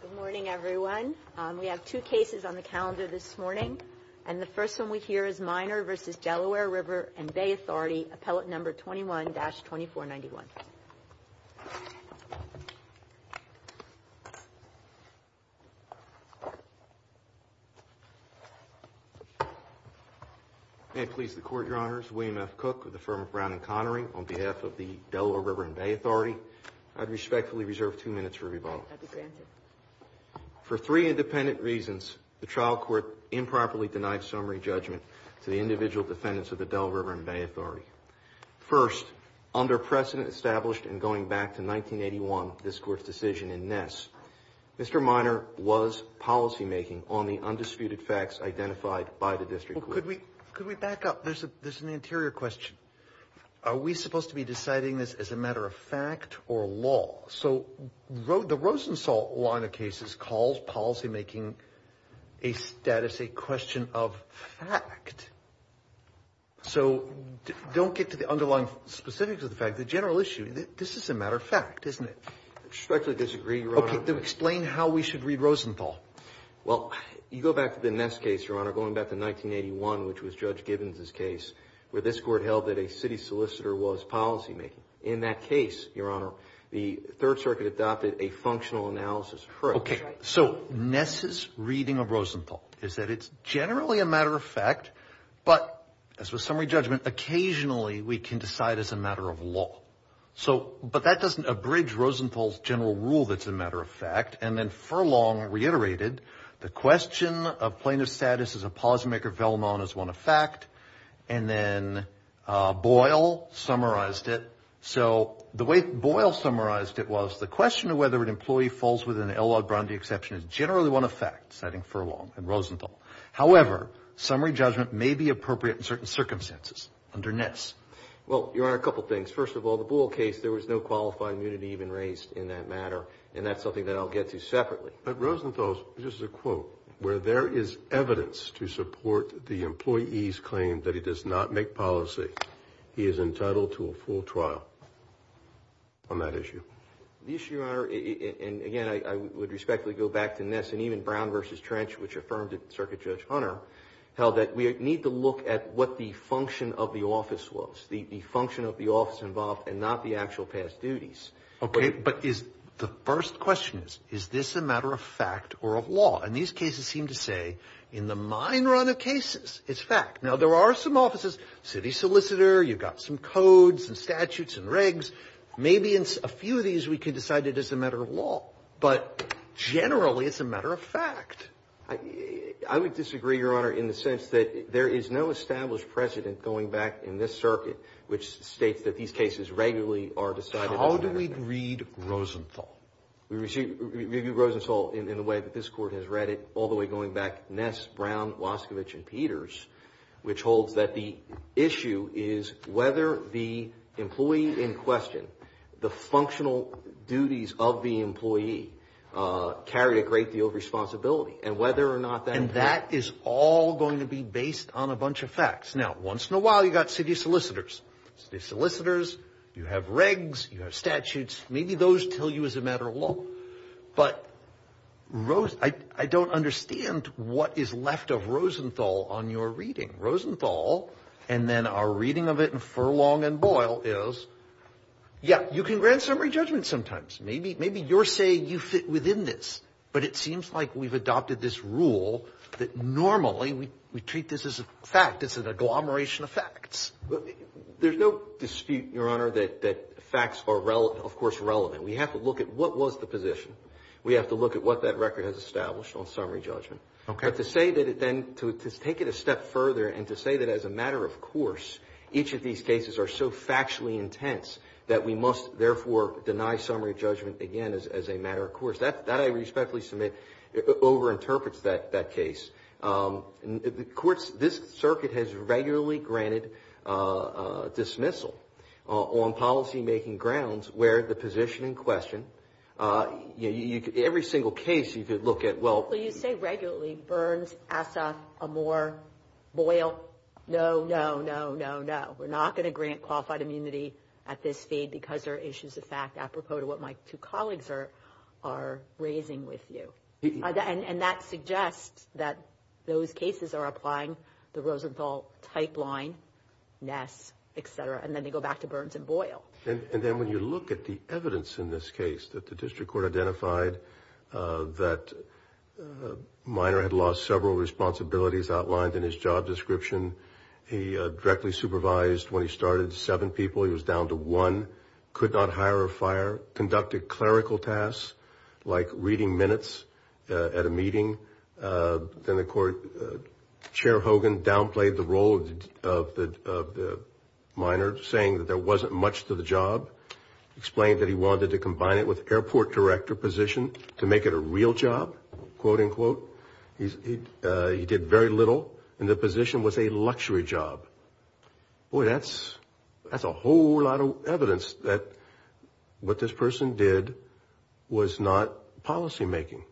Good morning everyone. We have two cases on the calendar this morning and the first one we hear is Minor v. Delaware River and Bay Authority, appellate number 21-2491. May it please the court, your honors. William F. Cook with the firm of Brown and Connery on behalf of the Delaware River and Bay Authority. I'd respectfully reserve two minutes for rebuttal. For three independent reasons, the trial court improperly denied summary judgment to the individual defendants of the Delaware River and Bay Authority. First, under precedent established in going back to 1981, this court's decision in Ness, Mr. Minor was policymaking on the undisputed facts identified by the district. Could we could we back up? There's a there's an anterior question. Are we supposed to be deciding this as a matter of fact or law? So the Rosenthal line of cases calls policymaking a status, a question of fact. So don't get to the underlying specifics of the fact. The general issue, this is a matter of fact, isn't it? I respectfully disagree, your honor. Okay, then explain how we should read Rosenthal. Well, you go back to the Ness case, your honor, going back to 1981, which was Judge Gibbons's case, where this court held that a city solicitor was In that case, your honor, the Third Circuit adopted a functional analysis. Okay, so Ness's reading of Rosenthal is that it's generally a matter of fact, but as with summary judgment, occasionally we can decide as a matter of law. So but that doesn't abridge Rosenthal's general rule that's a matter of fact. And then Furlong reiterated the question of plaintiff's status as a policymaker vellum on as one of fact. And then Boyle summarized it. So the way Boyle summarized it was the question of whether an employee falls with an L.L. Brownlee exception is generally one of fact, citing Furlong and Rosenthal. However, summary judgment may be appropriate in certain circumstances under Ness. Well, your honor, a couple things. First of all, the Boyle case, there was no qualifying immunity even raised in that matter. And that's something I'll get to separately. But Rosenthal's, this is a quote, where there is evidence to support the employee's claim that he does not make policy. He is entitled to a full trial on that issue. The issue, your honor, and again, I would respectfully go back to Ness and even Brown versus Trench, which affirmed it. Circuit Judge Hunter held that we need to look at what the function of the office was, the function of the office involved and not the actual past duties. Okay. But the first question is, is this a matter of fact or of law? And these cases seem to say in the mine run of cases, it's fact. Now, there are some offices, city solicitor, you've got some codes and statutes and regs. Maybe in a few of these, we could decide it is a matter of law. But generally, it's a matter of fact. I would disagree, your honor, in the sense that there is no established precedent going back in this circuit which states that these cases regularly are decided. How do we read Rosenthal? We review Rosenthal in the way that this court has read it, all the way going back Ness, Brown, Waskovich, and Peters, which holds that the issue is whether the employee in question, the functional duties of the employee carried a great deal of responsibility and whether or not that... And that is all going to be based on a bunch of facts. Now, once in a while, you've got city solicitors. City solicitors, you have regs, you have statutes, maybe those tell you it's a matter of law. But I don't understand what is left of Rosenthal on your reading. Rosenthal, and then our reading of it in Furlong and Boyle is, yeah, you can grant summary judgment sometimes. Maybe you're saying you fit within this, but it seems like we've adopted this rule that normally we treat this as a fact. It's an agglomeration of facts. There's no dispute, Your Honor, that facts are, of course, relevant. We have to look at what was the position. We have to look at what that record has established on summary judgment. But to say that it then, to take it a step further and to say that as a matter of course, each of these cases are so factually intense that we must therefore deny summary judgment again as a matter of course, that I respectfully submit over-interprets that case. And of course, this circuit has regularly granted dismissal on policymaking grounds where the position in question, every single case you could look at, well. Well, you say regularly, Burns, Assaf, Amore, Boyle. No, no, no, no, no. We're not going to grant qualified immunity at this feed because there are issues of fact apropos to what my those cases are applying the Rosenthal type line, Ness, et cetera. And then they go back to Burns and Boyle. And then when you look at the evidence in this case that the district court identified that Minor had lost several responsibilities outlined in his job description, he directly supervised when he started seven people. He was down to one, could not hire a like reading minutes at a meeting. Then the court, Chair Hogan downplayed the role of the Minor saying that there wasn't much to the job. Explained that he wanted to combine it with airport director position to make it a real job, quote unquote. He did very little and the position was a luxury job. Boy, that's a whole lot of evidence that what this person did was not policymaking.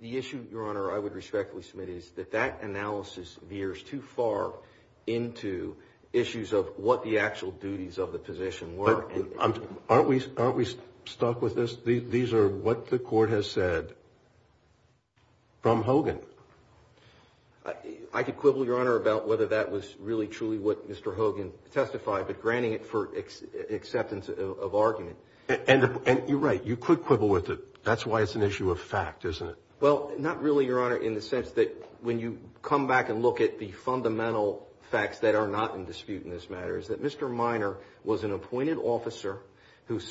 The issue, Your Honor, I would respectfully submit is that that analysis veers too far into issues of what the actual duties of the position were. Aren't we stuck with this? These are what the court has said from Hogan. I could quibble, Your Honor, about whether that was really truly what Mr. Hogan testified, but granting it for acceptance of argument. And you're right. You could quibble with it. That's why it's an issue of fact, isn't it? Well, not really, Your Honor, in the sense that when you come back and look at the fundamental facts that are not in dispute in this matter is that Mr. Minor was an appointed officer who His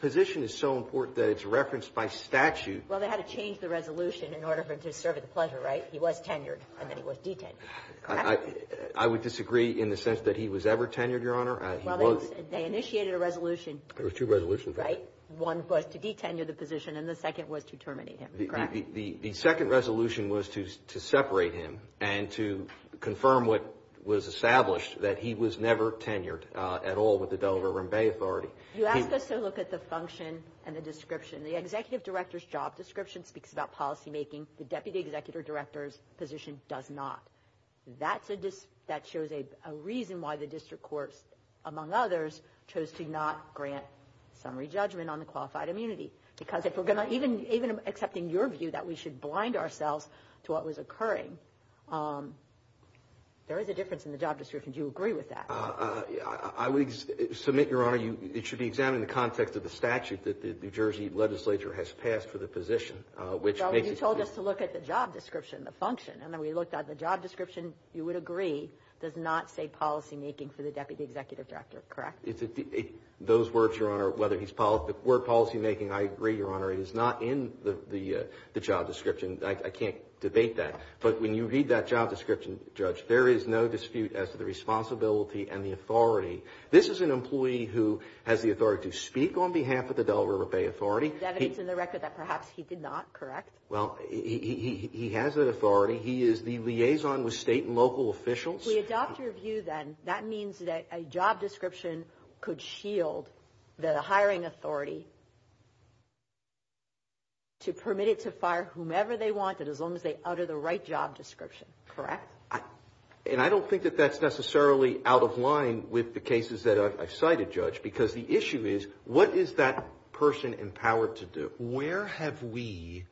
position is so important that it's referenced by statute. Well, they had to change the resolution in order for him to serve at the pleasure, right? He was tenured and then he was detenued. I would disagree in the sense that he was ever tenured, Your Honor. Well, they initiated a resolution. There were two resolutions. Right. One was to detenue the position and the second was to terminate him, correct? The second resolution was to separate him and to confirm what was established, that he was never tenured at all with the Delaware Rim Bay Authority. You asked us to look at the function and the description. The executive director's job description speaks about policymaking. The deputy executive director's position does not. That shows a reason why the district courts, among others, chose to not grant summary judgment on the qualified immunity. Because even accepting your view that we should blind ourselves to what There is a difference in the job description. Do you agree with that? I would submit, Your Honor, it should be examined in the context of the statute that the New Jersey legislature has passed for the position, which makes it You told us to look at the job description, the function. And then we looked at the job description, you would agree, does not say policymaking for the deputy executive director, correct? Those words, Your Honor, whether he's policymaking, I agree, Your Honor. It is not in the job description. I can't debate that. But when you read that job description, Judge, there is no dispute as to the responsibility and the authority. This is an employee who has the authority to speak on behalf of the Delaware Rim Bay Authority. That means in the record that perhaps he did not, correct? Well, he has that authority. He is the liaison with state and local officials. We adopt your view then, that means that a job description could shield the hiring authority to permit it to fire whomever they want and as long as they utter the right job description, correct? And I don't think that that's necessarily out of line with the cases that I've cited, Judge, because the issue is what is that person empowered to do? Where have we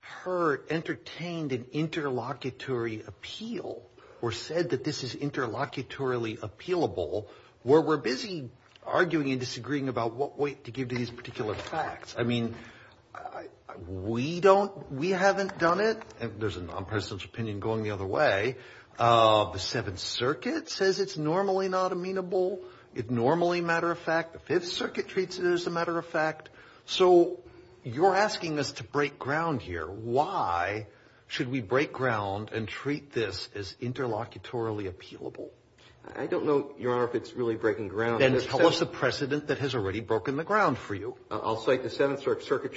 heard, entertained an interlocutory appeal or said that this is interlocutory appealable, where we're busy arguing and disagreeing about what weight to give to these particular facts? I mean, we haven't done it. There's a non-partisan opinion going the other way. The Seventh Circuit says it's normally not amenable. It normally, matter of fact, the Fifth Circuit treats it as a matter of fact. So you're asking us to break ground here. Why should we break ground and treat this as interlocutory appealable? I don't know, Your Honor, if it's really breaking ground. Then tell us the precedent that has already broken the ground for you. I'll cite the Seventh Circuit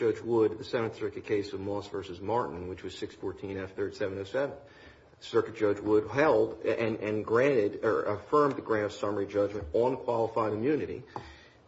case of Moss v. Martin, which was 614 F3rd 707. Circuit Judge Wood held and granted or affirmed the grand summary judgment on qualified immunity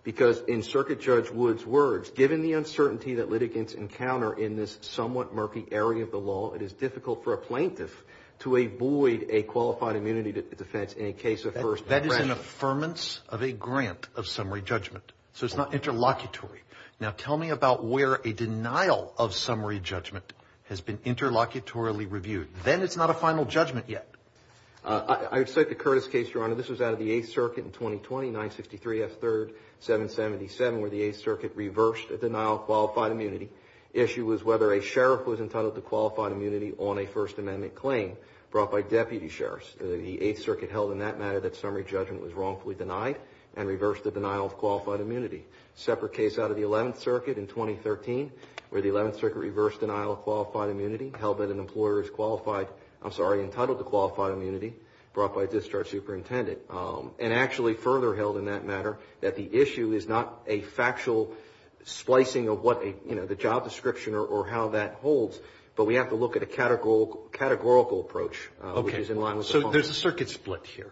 because in Circuit Judge Wood's words, given the uncertainty that litigants encounter in this somewhat murky area of the law, it is difficult for a plaintiff to avoid a qualified immunity defense in a case of first impression. That is an affirmance of a grant of summary judgment. So it's not interlocutory. Now tell me about where a denial of summary judgment has been interlocutorily reviewed. Then it's not a final judgment yet. I would cite the Curtis case, Your Honor. This was out of the Eighth Circuit in 2020, 963 F3rd 777, where the Eighth Circuit reversed a denial of qualified immunity. Issue was whether a sheriff was entitled to qualified immunity on a First Amendment claim brought by deputy sheriffs. The Eighth Circuit held in that matter that summary judgment was wrongfully denied and reversed the denial of qualified immunity. Separate case out of the Eleventh Circuit in 2013, where the Eleventh Circuit reversed denial of qualified immunity, held that an employer is qualified, I'm sorry, entitled to qualified immunity brought by a discharge superintendent. And actually further held in that matter that the issue is not a factual splicing of what a, you know, the job description or how that holds, but we have to look at a categorical approach which is in line with the function. Okay. So there's a circuit split here.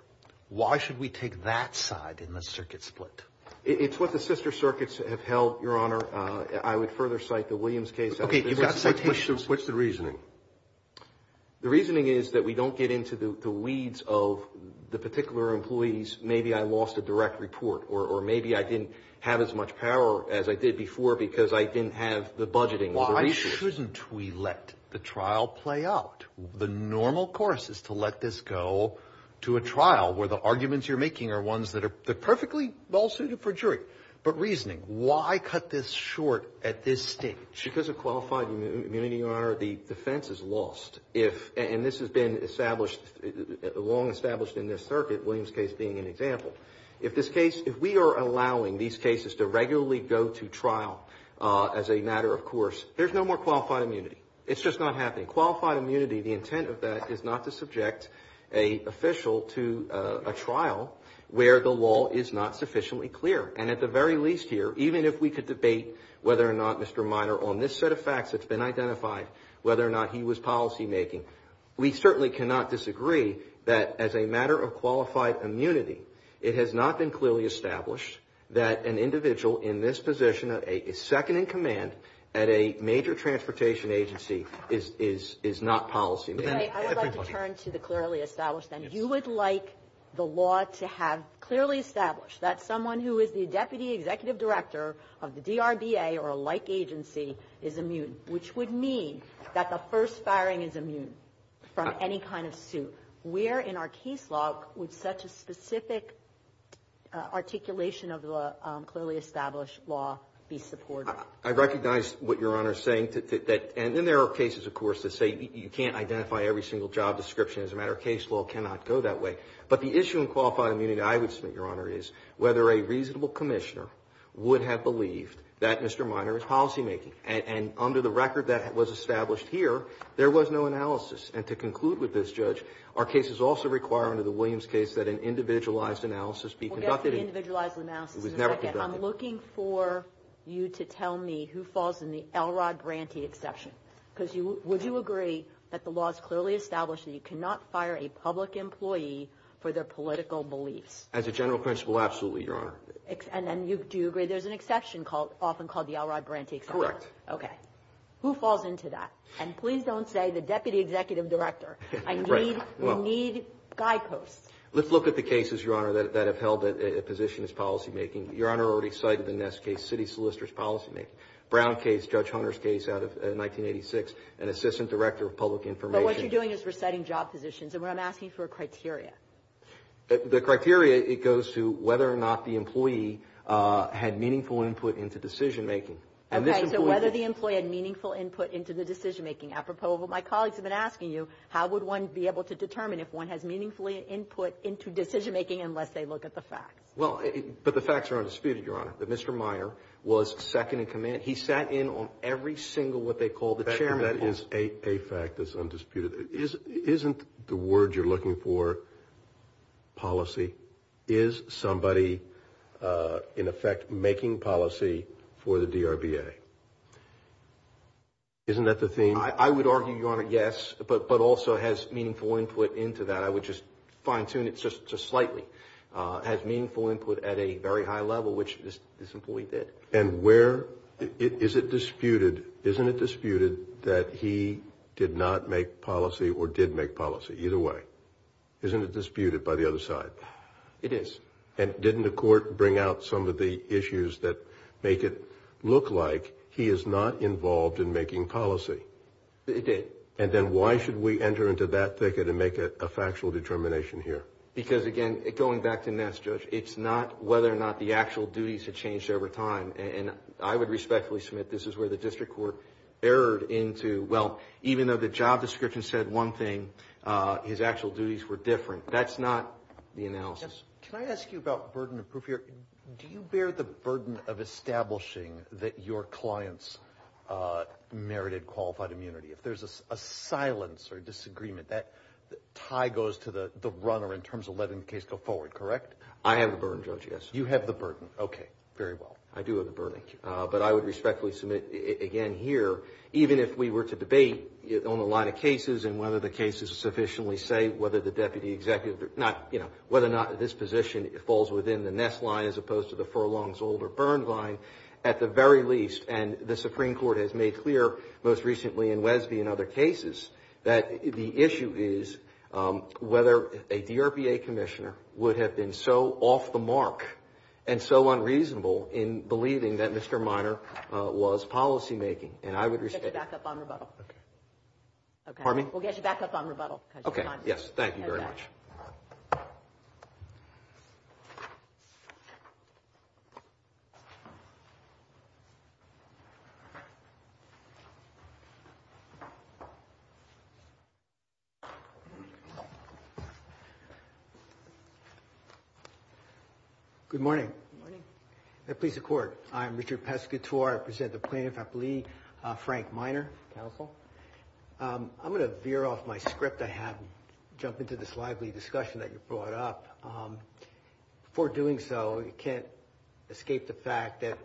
Why should we take that side in the circuit split? It's what the sister circuits have held, Your Honor. I would further cite the Williams case. Okay. You've got citations. What's the reasoning? The reasoning is that we don't get into the weeds of the particular employees, maybe I lost a direct report or maybe I didn't have as much power as I did before because I didn't have the budgeting or the resources. Why shouldn't we let the trial play out? The normal course is to let this go to a trial where the arguments you're making are ones that are perfectly well suited for jury. But reasoning, why cut this short at this stage? Because of qualified immunity, Your Honor, the defense is lost. And this has been established, long established in this circuit, Williams case being an example. If this case, if we are allowing these cases to regularly go to trial as a matter of course, there's no more qualified immunity. It's just not happening. Qualified immunity, the intent of that is not to subject a official to a trial where the law is not sufficiently clear. And at the very least here, even if we could debate whether or not Mr. Minor on this set has been identified, whether or not he was policymaking, we certainly cannot disagree that as a matter of qualified immunity, it has not been clearly established that an individual in this position is second in command at a major transportation agency is not policymaking. I would like to turn to the clearly established then. You would like the law to have clearly established that someone who is the deputy executive director of the DRBA or a like agency is immune, which would mean that the first firing is immune from any kind of suit. Where in our case law would such a specific articulation of the clearly established law be supported? I recognize what Your Honor is saying. And there are cases, of course, that say you can't identify every single job description as a matter of case law cannot go that way. But the issue in qualified immunity, I would submit, Your Honor, is whether a reasonable commissioner would have believed that Mr. Minor is policymaking. And under the record that was established here, there was no analysis. And to conclude with this, Judge, our cases also require under the Williams case that an individualized analysis be conducted. We'll get to the individualized analysis in a second. I'm looking for you to tell me who falls in the Elrod Branty exception. Because would you agree that the law is clearly established that you cannot fire a public employee for their political beliefs? As a general principle, absolutely, Your Honor. And do you agree there's an exception often called the Elrod Branty exception? Correct. Okay. Who falls into that? And please don't say the deputy executive director. Right. We need guideposts. Let's look at the cases, Your Honor, that have held a position as policymaking. Your Honor already cited the Ness case, city solicitor's policymaking. Brown case, Judge Hunter's case out of 1986, an assistant director of public information. But what you're doing is reciting job positions. And what I'm asking for are criteria. The criteria, it goes to whether or not the employee had meaningful input into decision making. Okay. So whether the employee had meaningful input into the decision making. Apropos of what my colleagues have been asking you, how would one be able to determine if one has meaningfully input into decision making unless they look at the facts? Well, but the facts are undisputed, Your Honor. Mr. Meyer was second in command. He sat in on every single what they call the chairman. That is a fact that's undisputed. Isn't the word you're looking for policy? Is somebody in effect making policy for the DRBA? Isn't that the theme? I would argue, Your Honor, yes, but also has meaningful input into that. I would just fine tune it just slightly. Has meaningful input at a very high level, which this employee did. And where, is it disputed, isn't it disputed that he did not make policy or did make policy? Either way. Isn't it disputed by the other side? It is. And didn't the court bring out some of the issues that make it look like he is not involved in making policy? It did. And then why should we enter into that thicket and make a factual determination here? Because again, going back to Ness, Judge, it's not whether or not the actual duties have changed over time. And I would respectfully submit this is where the district court erred into, well, even though the job description said one thing, his actual duties were different. That's not the analysis. Can I ask you about burden of proof here? Do you bear the burden of establishing that your clients merited qualified immunity? If there's a silence or disagreement, that tie goes to the runner in terms of letting the case go forward, correct? You have the burden. Okay. Very well. I do have the burden. But I would respectfully submit again here, even if we were to debate on the line of cases and whether the case is sufficiently safe, whether the deputy executive, not, you know, whether or not this position falls within the Ness line as opposed to the Furlong's older Byrne line, at the very least, and the Supreme Court has made clear most recently in Wesby and other cases, that the issue is whether a DRPA commissioner would have been so off the mark and so unreasonable in believing that Mr. Minor was policymaking. And I would respect... We'll get you back up on rebuttal. Okay. Pardon me? We'll get you back up on rebuttal. Okay. Yes. Thank you very much. Good morning. Good morning. May it please the Court. I'm Richard Pescatore. I present the plaintiff, I believe, Frank Minor. Counsel. I'm going to veer off my script I have and jump into this lively discussion that you brought up. Before doing so, you can't escape the fact that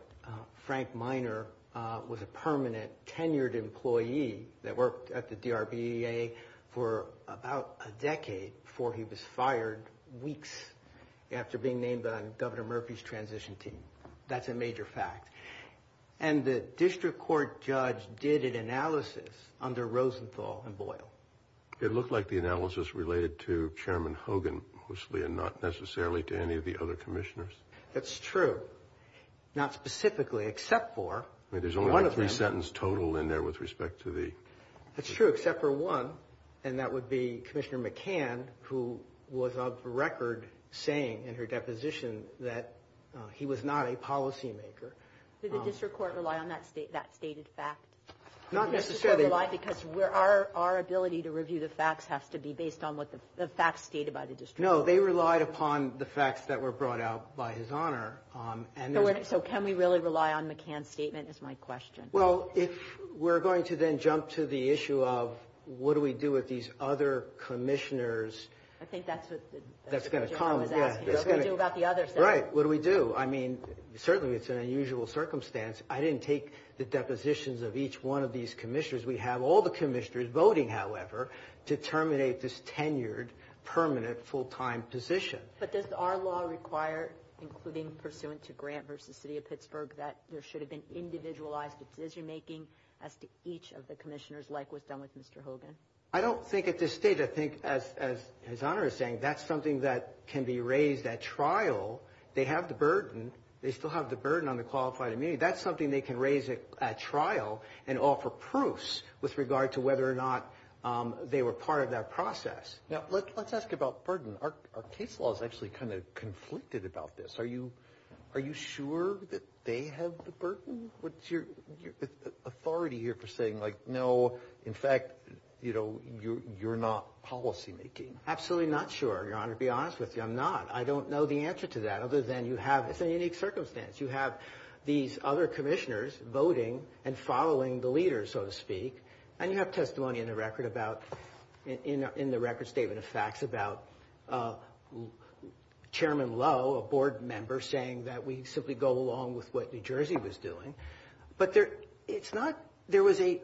Frank Minor was a permanent, tenured employee that worked at the DRPA for about a decade before he was fired, weeks after being named on Governor Murphy's transition team. That's a major fact. And the district court judge did an analysis under Rosenthal and Boyle. It looked like the analysis related to Chairman Hogan, mostly, and not necessarily to any of the other commissioners. That's true. Not specifically, except for... There's only one three-sentence total in there with respect to the... That's true, except for one, and that would be Commissioner McCann, who was of record saying in her deposition that he was not a policymaker. Did the district court rely on that stated fact? Not necessarily. Because our ability to review the facts has to be based on what the facts stated by the district court. No, they relied upon the facts that were brought out by his honor. So can we really rely on McCann's statement, is my question. Well, if we're going to then jump to the issue of what do we do with these other commissioners... I think that's what... That's going to come... Jim was asking, what do we do about the others? Right. What do we do? I mean, certainly it's an unusual circumstance. I didn't take the depositions of each one of these commissioners. We have all the commissioners voting, however, to terminate this tenured, permanent, full-time position. But does our law require, including pursuant to Grant v. City of Pittsburgh, that there should have been individualized decision-making as to each of the commissioners, like was done with Mr. Hogan? I don't think at this stage. I think, as his honor is saying, that's something that can be raised at trial. They have the burden. They still have the burden on the qualified immunity. That's something they can raise at trial and offer proofs with regard to whether or not they were part of that process. Now, let's ask about burden. Our case law is actually kind of conflicted about this. Are you sure that they have the burden? What's your authority here for saying, like, no, in fact, you're not policymaking? Absolutely not sure, your honor. To be honest with you, I'm not. I don't know the answer to that, other than you have... It's an unique circumstance. You have these other commissioners voting and following the leaders, so to speak. And you have testimony in the record about, in the record statement of facts about Chairman Lowe, a board member, saying that we simply go along with what New Jersey was doing. But it's not... There was a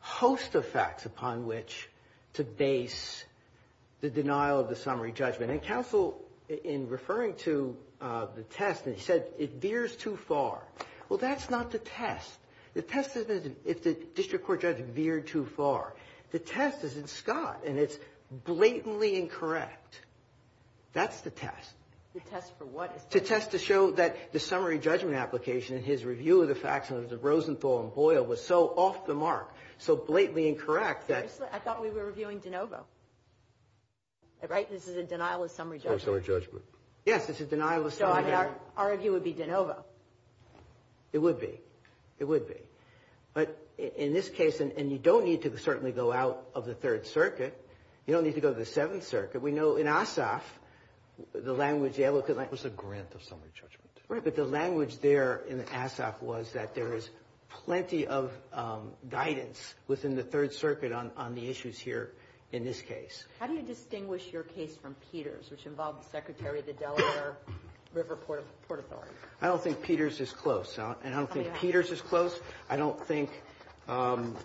host of facts upon which to base the denial of the summary judgment. And counsel, in referring to the test, said it veers too far. Well, that's not the test. The test isn't if the district court judge veered too far. The test is in Scott, and it's blatantly incorrect. That's the test. The test for what? The test to show that the summary judgment application in his review of the facts under Rosenthal and Boyle was so off the mark, so blatantly incorrect that... I thought we were reviewing DeNovo. Right? This is a denial of summary judgment. Summary judgment. Yes, this is denial of summary judgment. Our review would be DeNovo. It would be. It would be. But in this case, and you don't need to certainly go out of the Third Circuit. You don't need to go to the Seventh Circuit. We know in Asaf, the language... It was a grant of summary judgment. Right, but the language there in Asaf was that there was plenty of guidance within the Third Circuit on the issues here in this case. How do you distinguish your case from Peters, which involved the Secretary of the Delaware River Port Authority? I don't think Peters is close. And I don't think Peters is close. I don't think Brown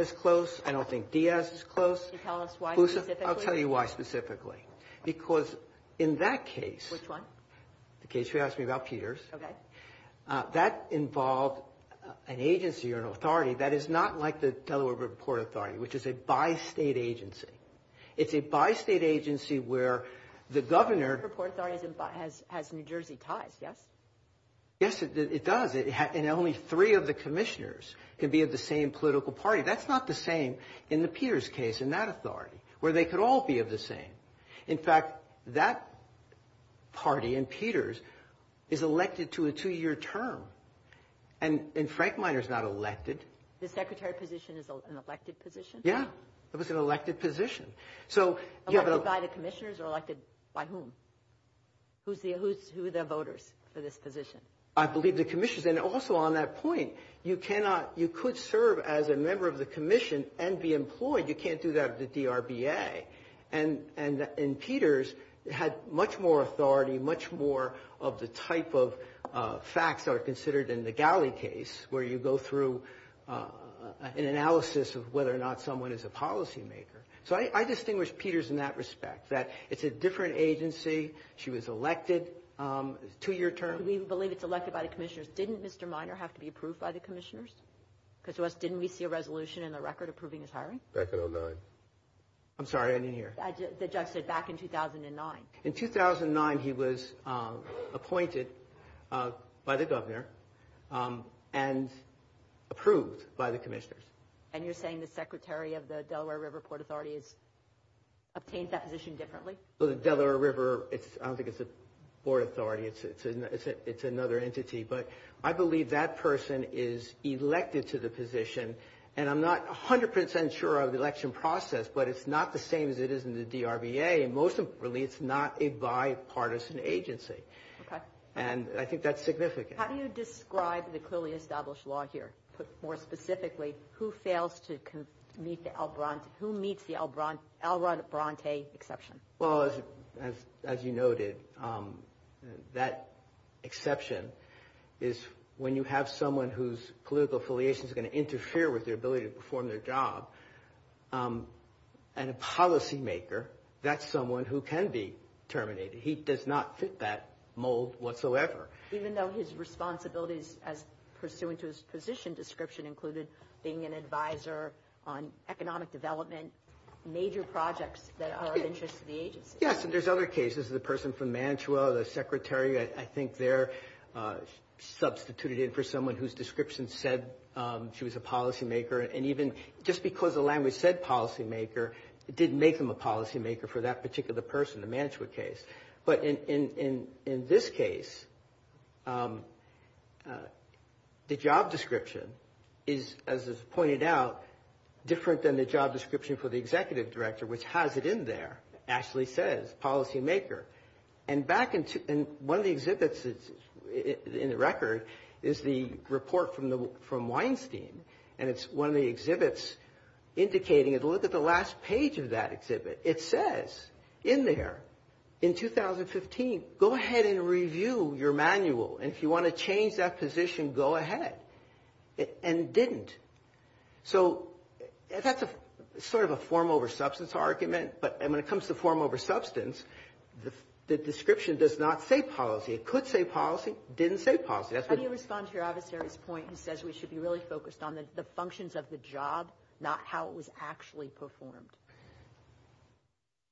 is close. I don't think Diaz is close. Can you tell us why specifically? I'll tell you why specifically. Because in that case... Which one? The case you asked me about, Peters. Okay. That involved an agency or an authority that is not like the Delaware River Port Authority, which is a bi-State agency. It's a bi-State agency where the governor... The Delaware River Port Authority has New Jersey ties, yes? Yes, it does. And only three of the commissioners can be of the same political party. That's not the same in the Peters case, in that authority, where they could all be of the same. In fact, that party in Peters is elected to a two-year term. And Frank Miner's not elected. The Secretary position is an elected position? Yeah, it was an elected position. So... Elected by the commissioners or elected by whom? Who are the voters for this position? I believe the commissioners. And also on that point, you cannot... You could serve as a member of the commission and be employed. You can't do that at the DRBA. And in Peters, it had much more authority, much more of the type of facts that are considered in the Galley case, where you go through an analysis of whether or not someone is a policy maker. So I distinguish Peters in that respect, that it's a different agency. She was elected, two-year term. We believe it's elected by the commissioners. Didn't Mr. Miner have to be approved by the commissioners? Because to us, didn't we see a resolution in the record approving his hiring? Back in 2009. I'm sorry, I didn't hear. The judge said back in 2009. In 2009, he was appointed by the governor and approved by the commissioners. And you're saying the Secretary of the Delaware River Port Authority has obtained that position differently? Well, the Delaware River, I don't think it's a port authority. It's another entity. But I believe that person is elected to the position. And I'm not 100% sure of the election process, but it's not the same as it is in the DRBA. And most importantly, it's not a bipartisan agency. And I think that's significant. How do you describe the clearly established law here? Put more specifically, who fails to meet the Albronte... Who meets the Albronte exception? Well, as you noted, that exception is when you have someone whose political affiliation is going to interfere with their ability to perform their job. And a policymaker, that's someone who can be terminated. He does not fit that mold whatsoever. Even though his responsibilities as pursuant to his position description included being an advisor on economic development, major projects that are of interest to the agency. Yes. And there's other cases. The person from Manitowoc, the Secretary, I think they're substituted in for someone whose description said she was a policymaker. And even just because the language said policymaker, it didn't make them a policymaker for that particular person, the Manitowoc case. But in this case, the job description is, as is pointed out, different than the job description for the executive director, which has it in there. Actually says policymaker. And one of the exhibits in the record is the report from Weinstein. And it's one of the exhibits indicating... Look at the last page of that exhibit. It says in there, in 2015, go ahead and review your manual. And if you want to change that position, go ahead. And didn't. So that's a sort of a form over substance argument. But when it comes to form over substance, the description does not say policy. It could say policy. Didn't say policy. How do you respond to your adversary's point who says we should be really focused on the functions of the job, not how it was actually performed?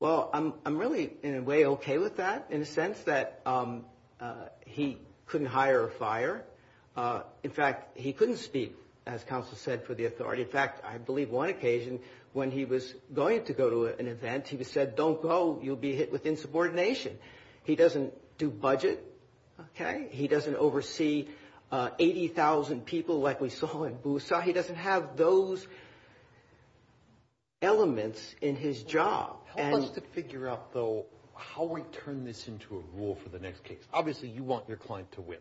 Well, I'm really, in a way, okay with that in a sense that he couldn't hire a fire. In fact, he couldn't speak, as counsel said, for the authority. In fact, I believe one occasion when he was going to go to an event, he was said, don't go. You'll be hit with insubordination. He doesn't do budget. Okay. He doesn't oversee 80,000 people like we saw in Busa. He doesn't have those elements in his job. Help us to figure out, though, how we turn this into a rule for the next case. Obviously, you want your client to win.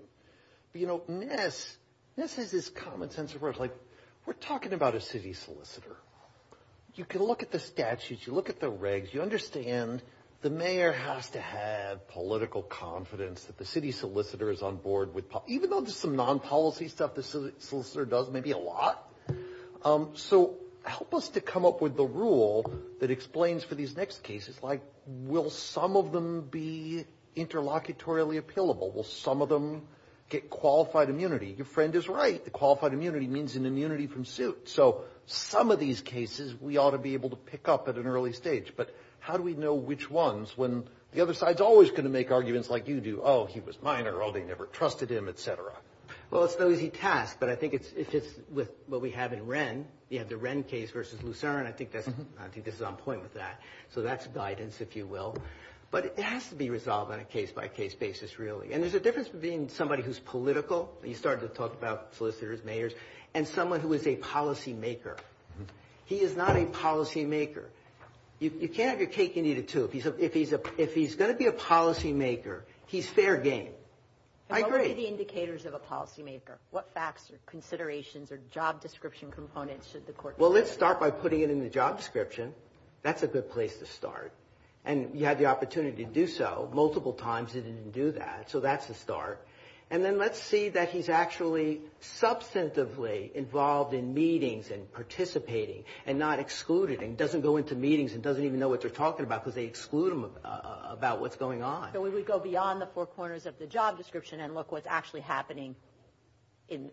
But you know, Ness, Ness has this common sense approach. Like, we're talking about a city solicitor. You can look at the statutes. You look at the regs. You understand the mayor has to have political confidence that the city solicitor is on board even though there's some non-policy stuff the solicitor does, maybe a lot. So help us to come up with the rule that explains for these next cases. Like, will some of them be interlocutorially appealable? Will some of them get qualified immunity? Your friend is right. The qualified immunity means an immunity from suit. So some of these cases we ought to be able to pick up at an early stage. But how do we know which ones when the other side is always going to make arguments like you do? Oh, he was minor. They never trusted him, et cetera. Well, it's an easy task. But I think it fits with what we have in Wren. We have the Wren case versus Lucerne. I think this is on point with that. So that's guidance, if you will. But it has to be resolved on a case-by-case basis, really. And there's a difference between somebody who's political. You started to talk about solicitors, mayors. And someone who is a policymaker. He is not a policymaker. You can't have your cake and eat it, too. If he's going to be a policymaker, he's fair game. I agree. What are the indicators of a policymaker? What facts or considerations or job description components should the court consider? Well, let's start by putting it in the job description. That's a good place to start. And you had the opportunity to do so multiple times. He didn't do that. So that's a start. And then let's see that he's actually substantively involved in meetings and participating and not excluded and doesn't go into meetings and doesn't even know what they're talking about because they exclude him about what's going on. We would go beyond the four corners of the job description and look what's actually happening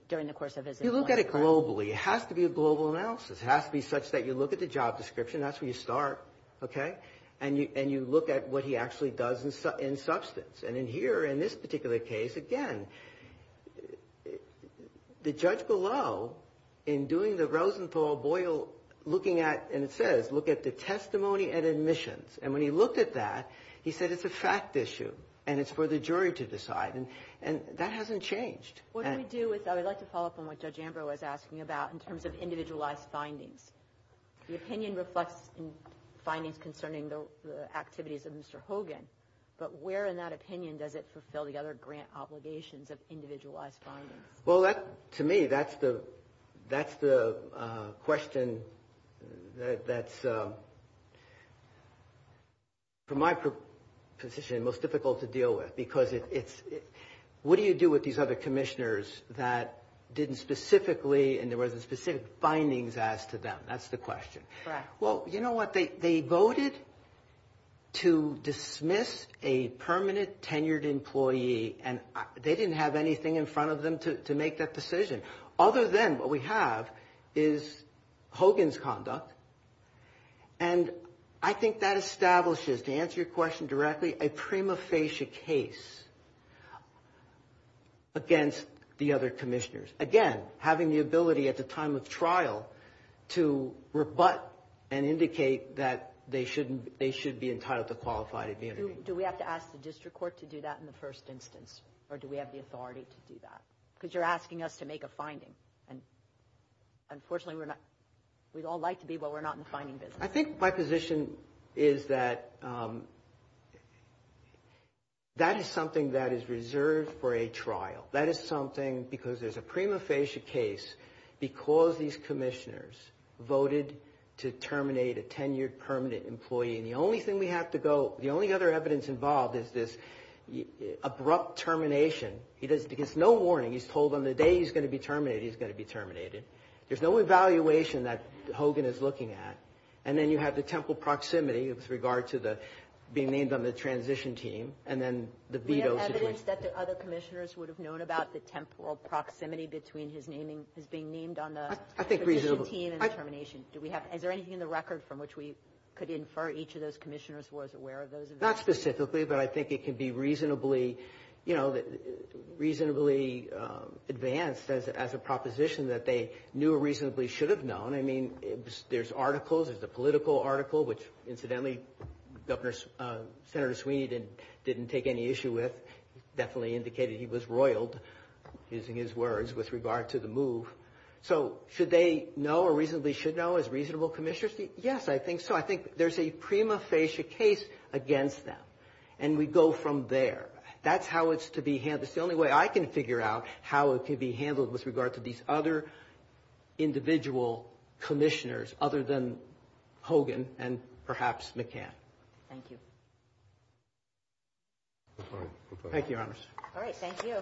during the course of his employment. You look at it globally. It has to be a global analysis. It has to be such that you look at the job description. That's where you start, okay? And you look at what he actually does in substance. And in here, in this particular case, again, the judge below, in doing the Rosenthal-Boyle looking at, and it says, look at the testimony and admissions. And when he looked at that, he said it's a fact issue. And it's for the jury to decide. And that hasn't changed. What do we do with, I would like to follow up on what Judge Ambrose was asking about in terms of individualized findings. The opinion reflects findings concerning the activities of Mr. Hogan. But where in that opinion does it fulfill the other grant obligations of individualized findings? Well, to me, that's the question that's, for my position, most difficult to deal with. Because it's, what do you do with these other commissioners that didn't specifically, and there wasn't specific findings asked to them? That's the question. Well, you know what? They voted to dismiss a permanent tenured employee. And they didn't have anything in front of them to make that decision. Other than what we have is Hogan's conduct. And I think that establishes, to answer your question directly, a prima facie case against the other commissioners. Again, having the ability at the time of trial to rebut and indicate that they should be entitled to qualified immunity. Do we have to ask the district court to do that in the first instance? Or do we have the authority to do that? Because you're asking us to make a finding. And unfortunately, we'd all like to be, but we're not in the finding business. I think my position is that that is something that is reserved for a trial. That is something, because there's a prima facie case, because these commissioners voted to terminate a tenured permanent employee. And the only thing we have to go, the only other evidence involved is this abrupt termination. He gets no warning. He's told on the day he's going to be terminated, he's going to be terminated. There's no evaluation that Hogan is looking at. And then you have the temporal proximity with regard to being named on the transition team. And then the veto situation. Do we have evidence that the other commissioners would have known about the temporal proximity between his being named on the transition team and the termination? Is there anything in the record from which we could infer each of those commissioners was aware of those events? Not specifically, but I think it can be reasonably, you know, reasonably advanced as a proposition that they knew or reasonably should have known. I mean, there's articles, there's a political article, which incidentally, Senator Sweeney didn't take any issue with, definitely indicated he was roiled, using his words, with regard to the move. So should they know or reasonably should know as reasonable commissioners? Yes, I think so. I think there's a prima facie case against them. And we go from there. That's how it's to be handled. It's the only way I can figure out how it can be handled with regard to these other individual commissioners other than Hogan and perhaps McCann. Thank you. Thank you, Your Honors. All right. Thank you.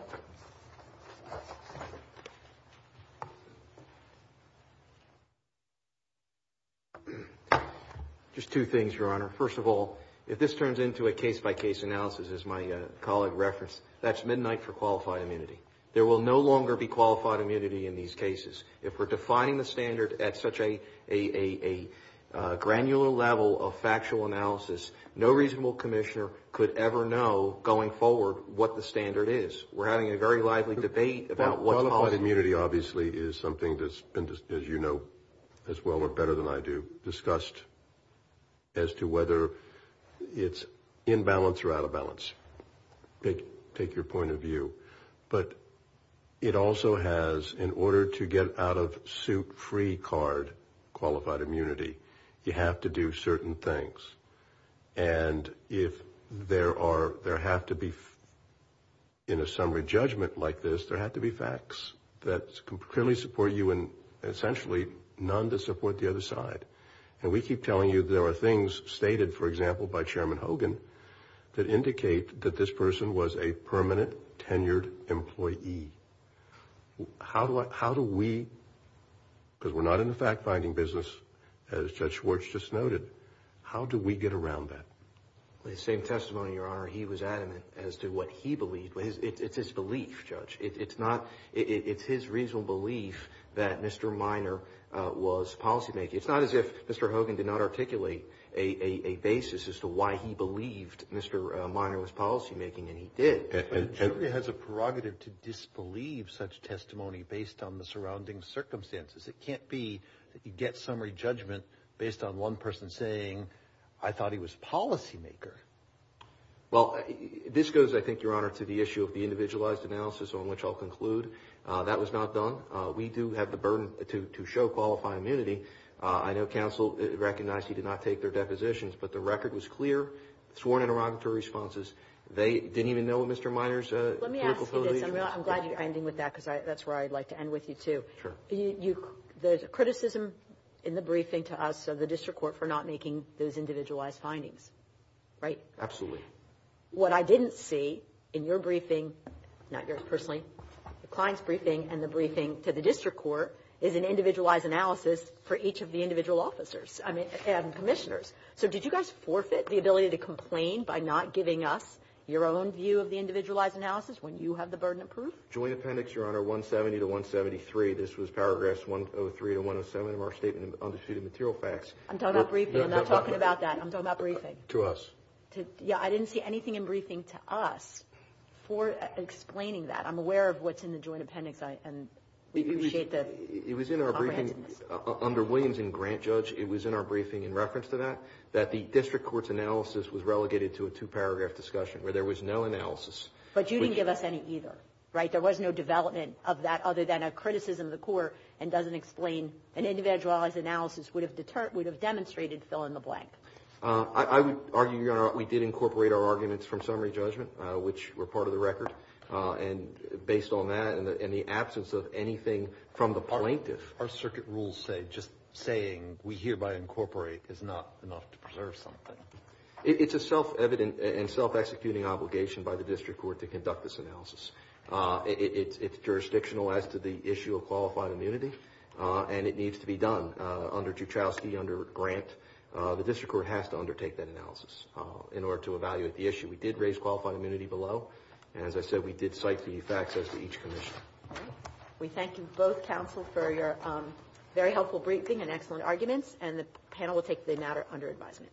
Just two things, Your Honor. First of all, if this turns into a case-by-case analysis, as my colleague referenced, that's midnight for qualified immunity. There will no longer be qualified immunity in these cases. If we're defining the standard at such a granular level of factual analysis, no reasonable commissioner could ever know going forward what the standard is. We're having a very lively debate about what's possible. Immunity obviously is something that's been, as you know as well or better than I do, discussed as to whether it's in balance or out of balance. Take your point of view. But it also has, in order to get out of suit free card qualified immunity, you have to do certain things. And if there are, there have to be, in a summary judgment like this, there have to be facts that clearly support you and essentially none that support the other side. And we keep telling you there are things stated, for example, by Chairman Hogan that indicate that this person was a permanent, tenured employee. How do we, because we're not in the fact-finding business, as Judge Schwartz just noted, how do we get around that? The same testimony, Your Honor. He was adamant as to what he believed. It's his belief, Judge. It's his reasonable belief that Mr. Minor was policy-making. It's not as if Mr. Hogan did not articulate a basis as to why he believed Mr. Minor was policy-making, and he did. But it certainly has a prerogative to disbelieve such testimony based on the surrounding circumstances. It can't be that you get summary judgment based on one person saying, I thought he was policy-maker. Well, this goes, I think, Your Honor, to the issue of the individualized analysis on which I'll conclude. That was not done. We do have the burden to show qualified immunity. I know counsel recognized he did not take their depositions, but the record was clear. Sworn interrogatory responses. They didn't even know what Mr. Minor's political position was. Let me ask you this. I'm glad you're ending with that, because that's where I'd like to end with you, too. Sure. The criticism in the briefing to us of the district court for not making those individualized findings, right? Absolutely. What I didn't see in your briefing, not yours personally, the client's briefing, and the briefing to the district court is an individualized analysis for each of the individual officers, I mean, and commissioners. So did you guys forfeit the ability to complain by not giving us your own view of the individualized analysis when you have the burden of proof? Joint appendix, Your Honor, 170 to 173. This was paragraphs 103 to 107 of our statement on the suit of material facts. I'm talking about briefing. I'm not talking about that. I'm talking about briefing. To us. Yeah, I didn't see anything in briefing to us for explaining that. I'm aware of what's in the joint appendix, and we appreciate the comprehensiveness. It was in our briefing under Williams and Grant, Judge. It was in our briefing in reference to that, that the district court's analysis was relegated to a two-paragraph discussion where there was no analysis. But you didn't give us any either, right? There was no development of that other than a criticism of the court and doesn't explain an individualized analysis would have demonstrated fill in the blank. I would argue, Your Honor, we did incorporate our arguments from summary judgment, which were part of the record. And based on that and the absence of anything from the plaintiff. Our circuit rules say just saying we hereby incorporate is not enough to preserve something. It's a self-evident and self-executing obligation by the district court to conduct this analysis. It's jurisdictional as to the issue of qualified immunity, and it needs to be done under Juchowski, under Grant. The district court has to undertake that analysis in order to evaluate the issue. We did raise qualified immunity below. And as I said, we did cite the facts as to each commission. We thank you both, counsel, for your very helpful briefing and excellent arguments. And the panel will take the matter under advisement.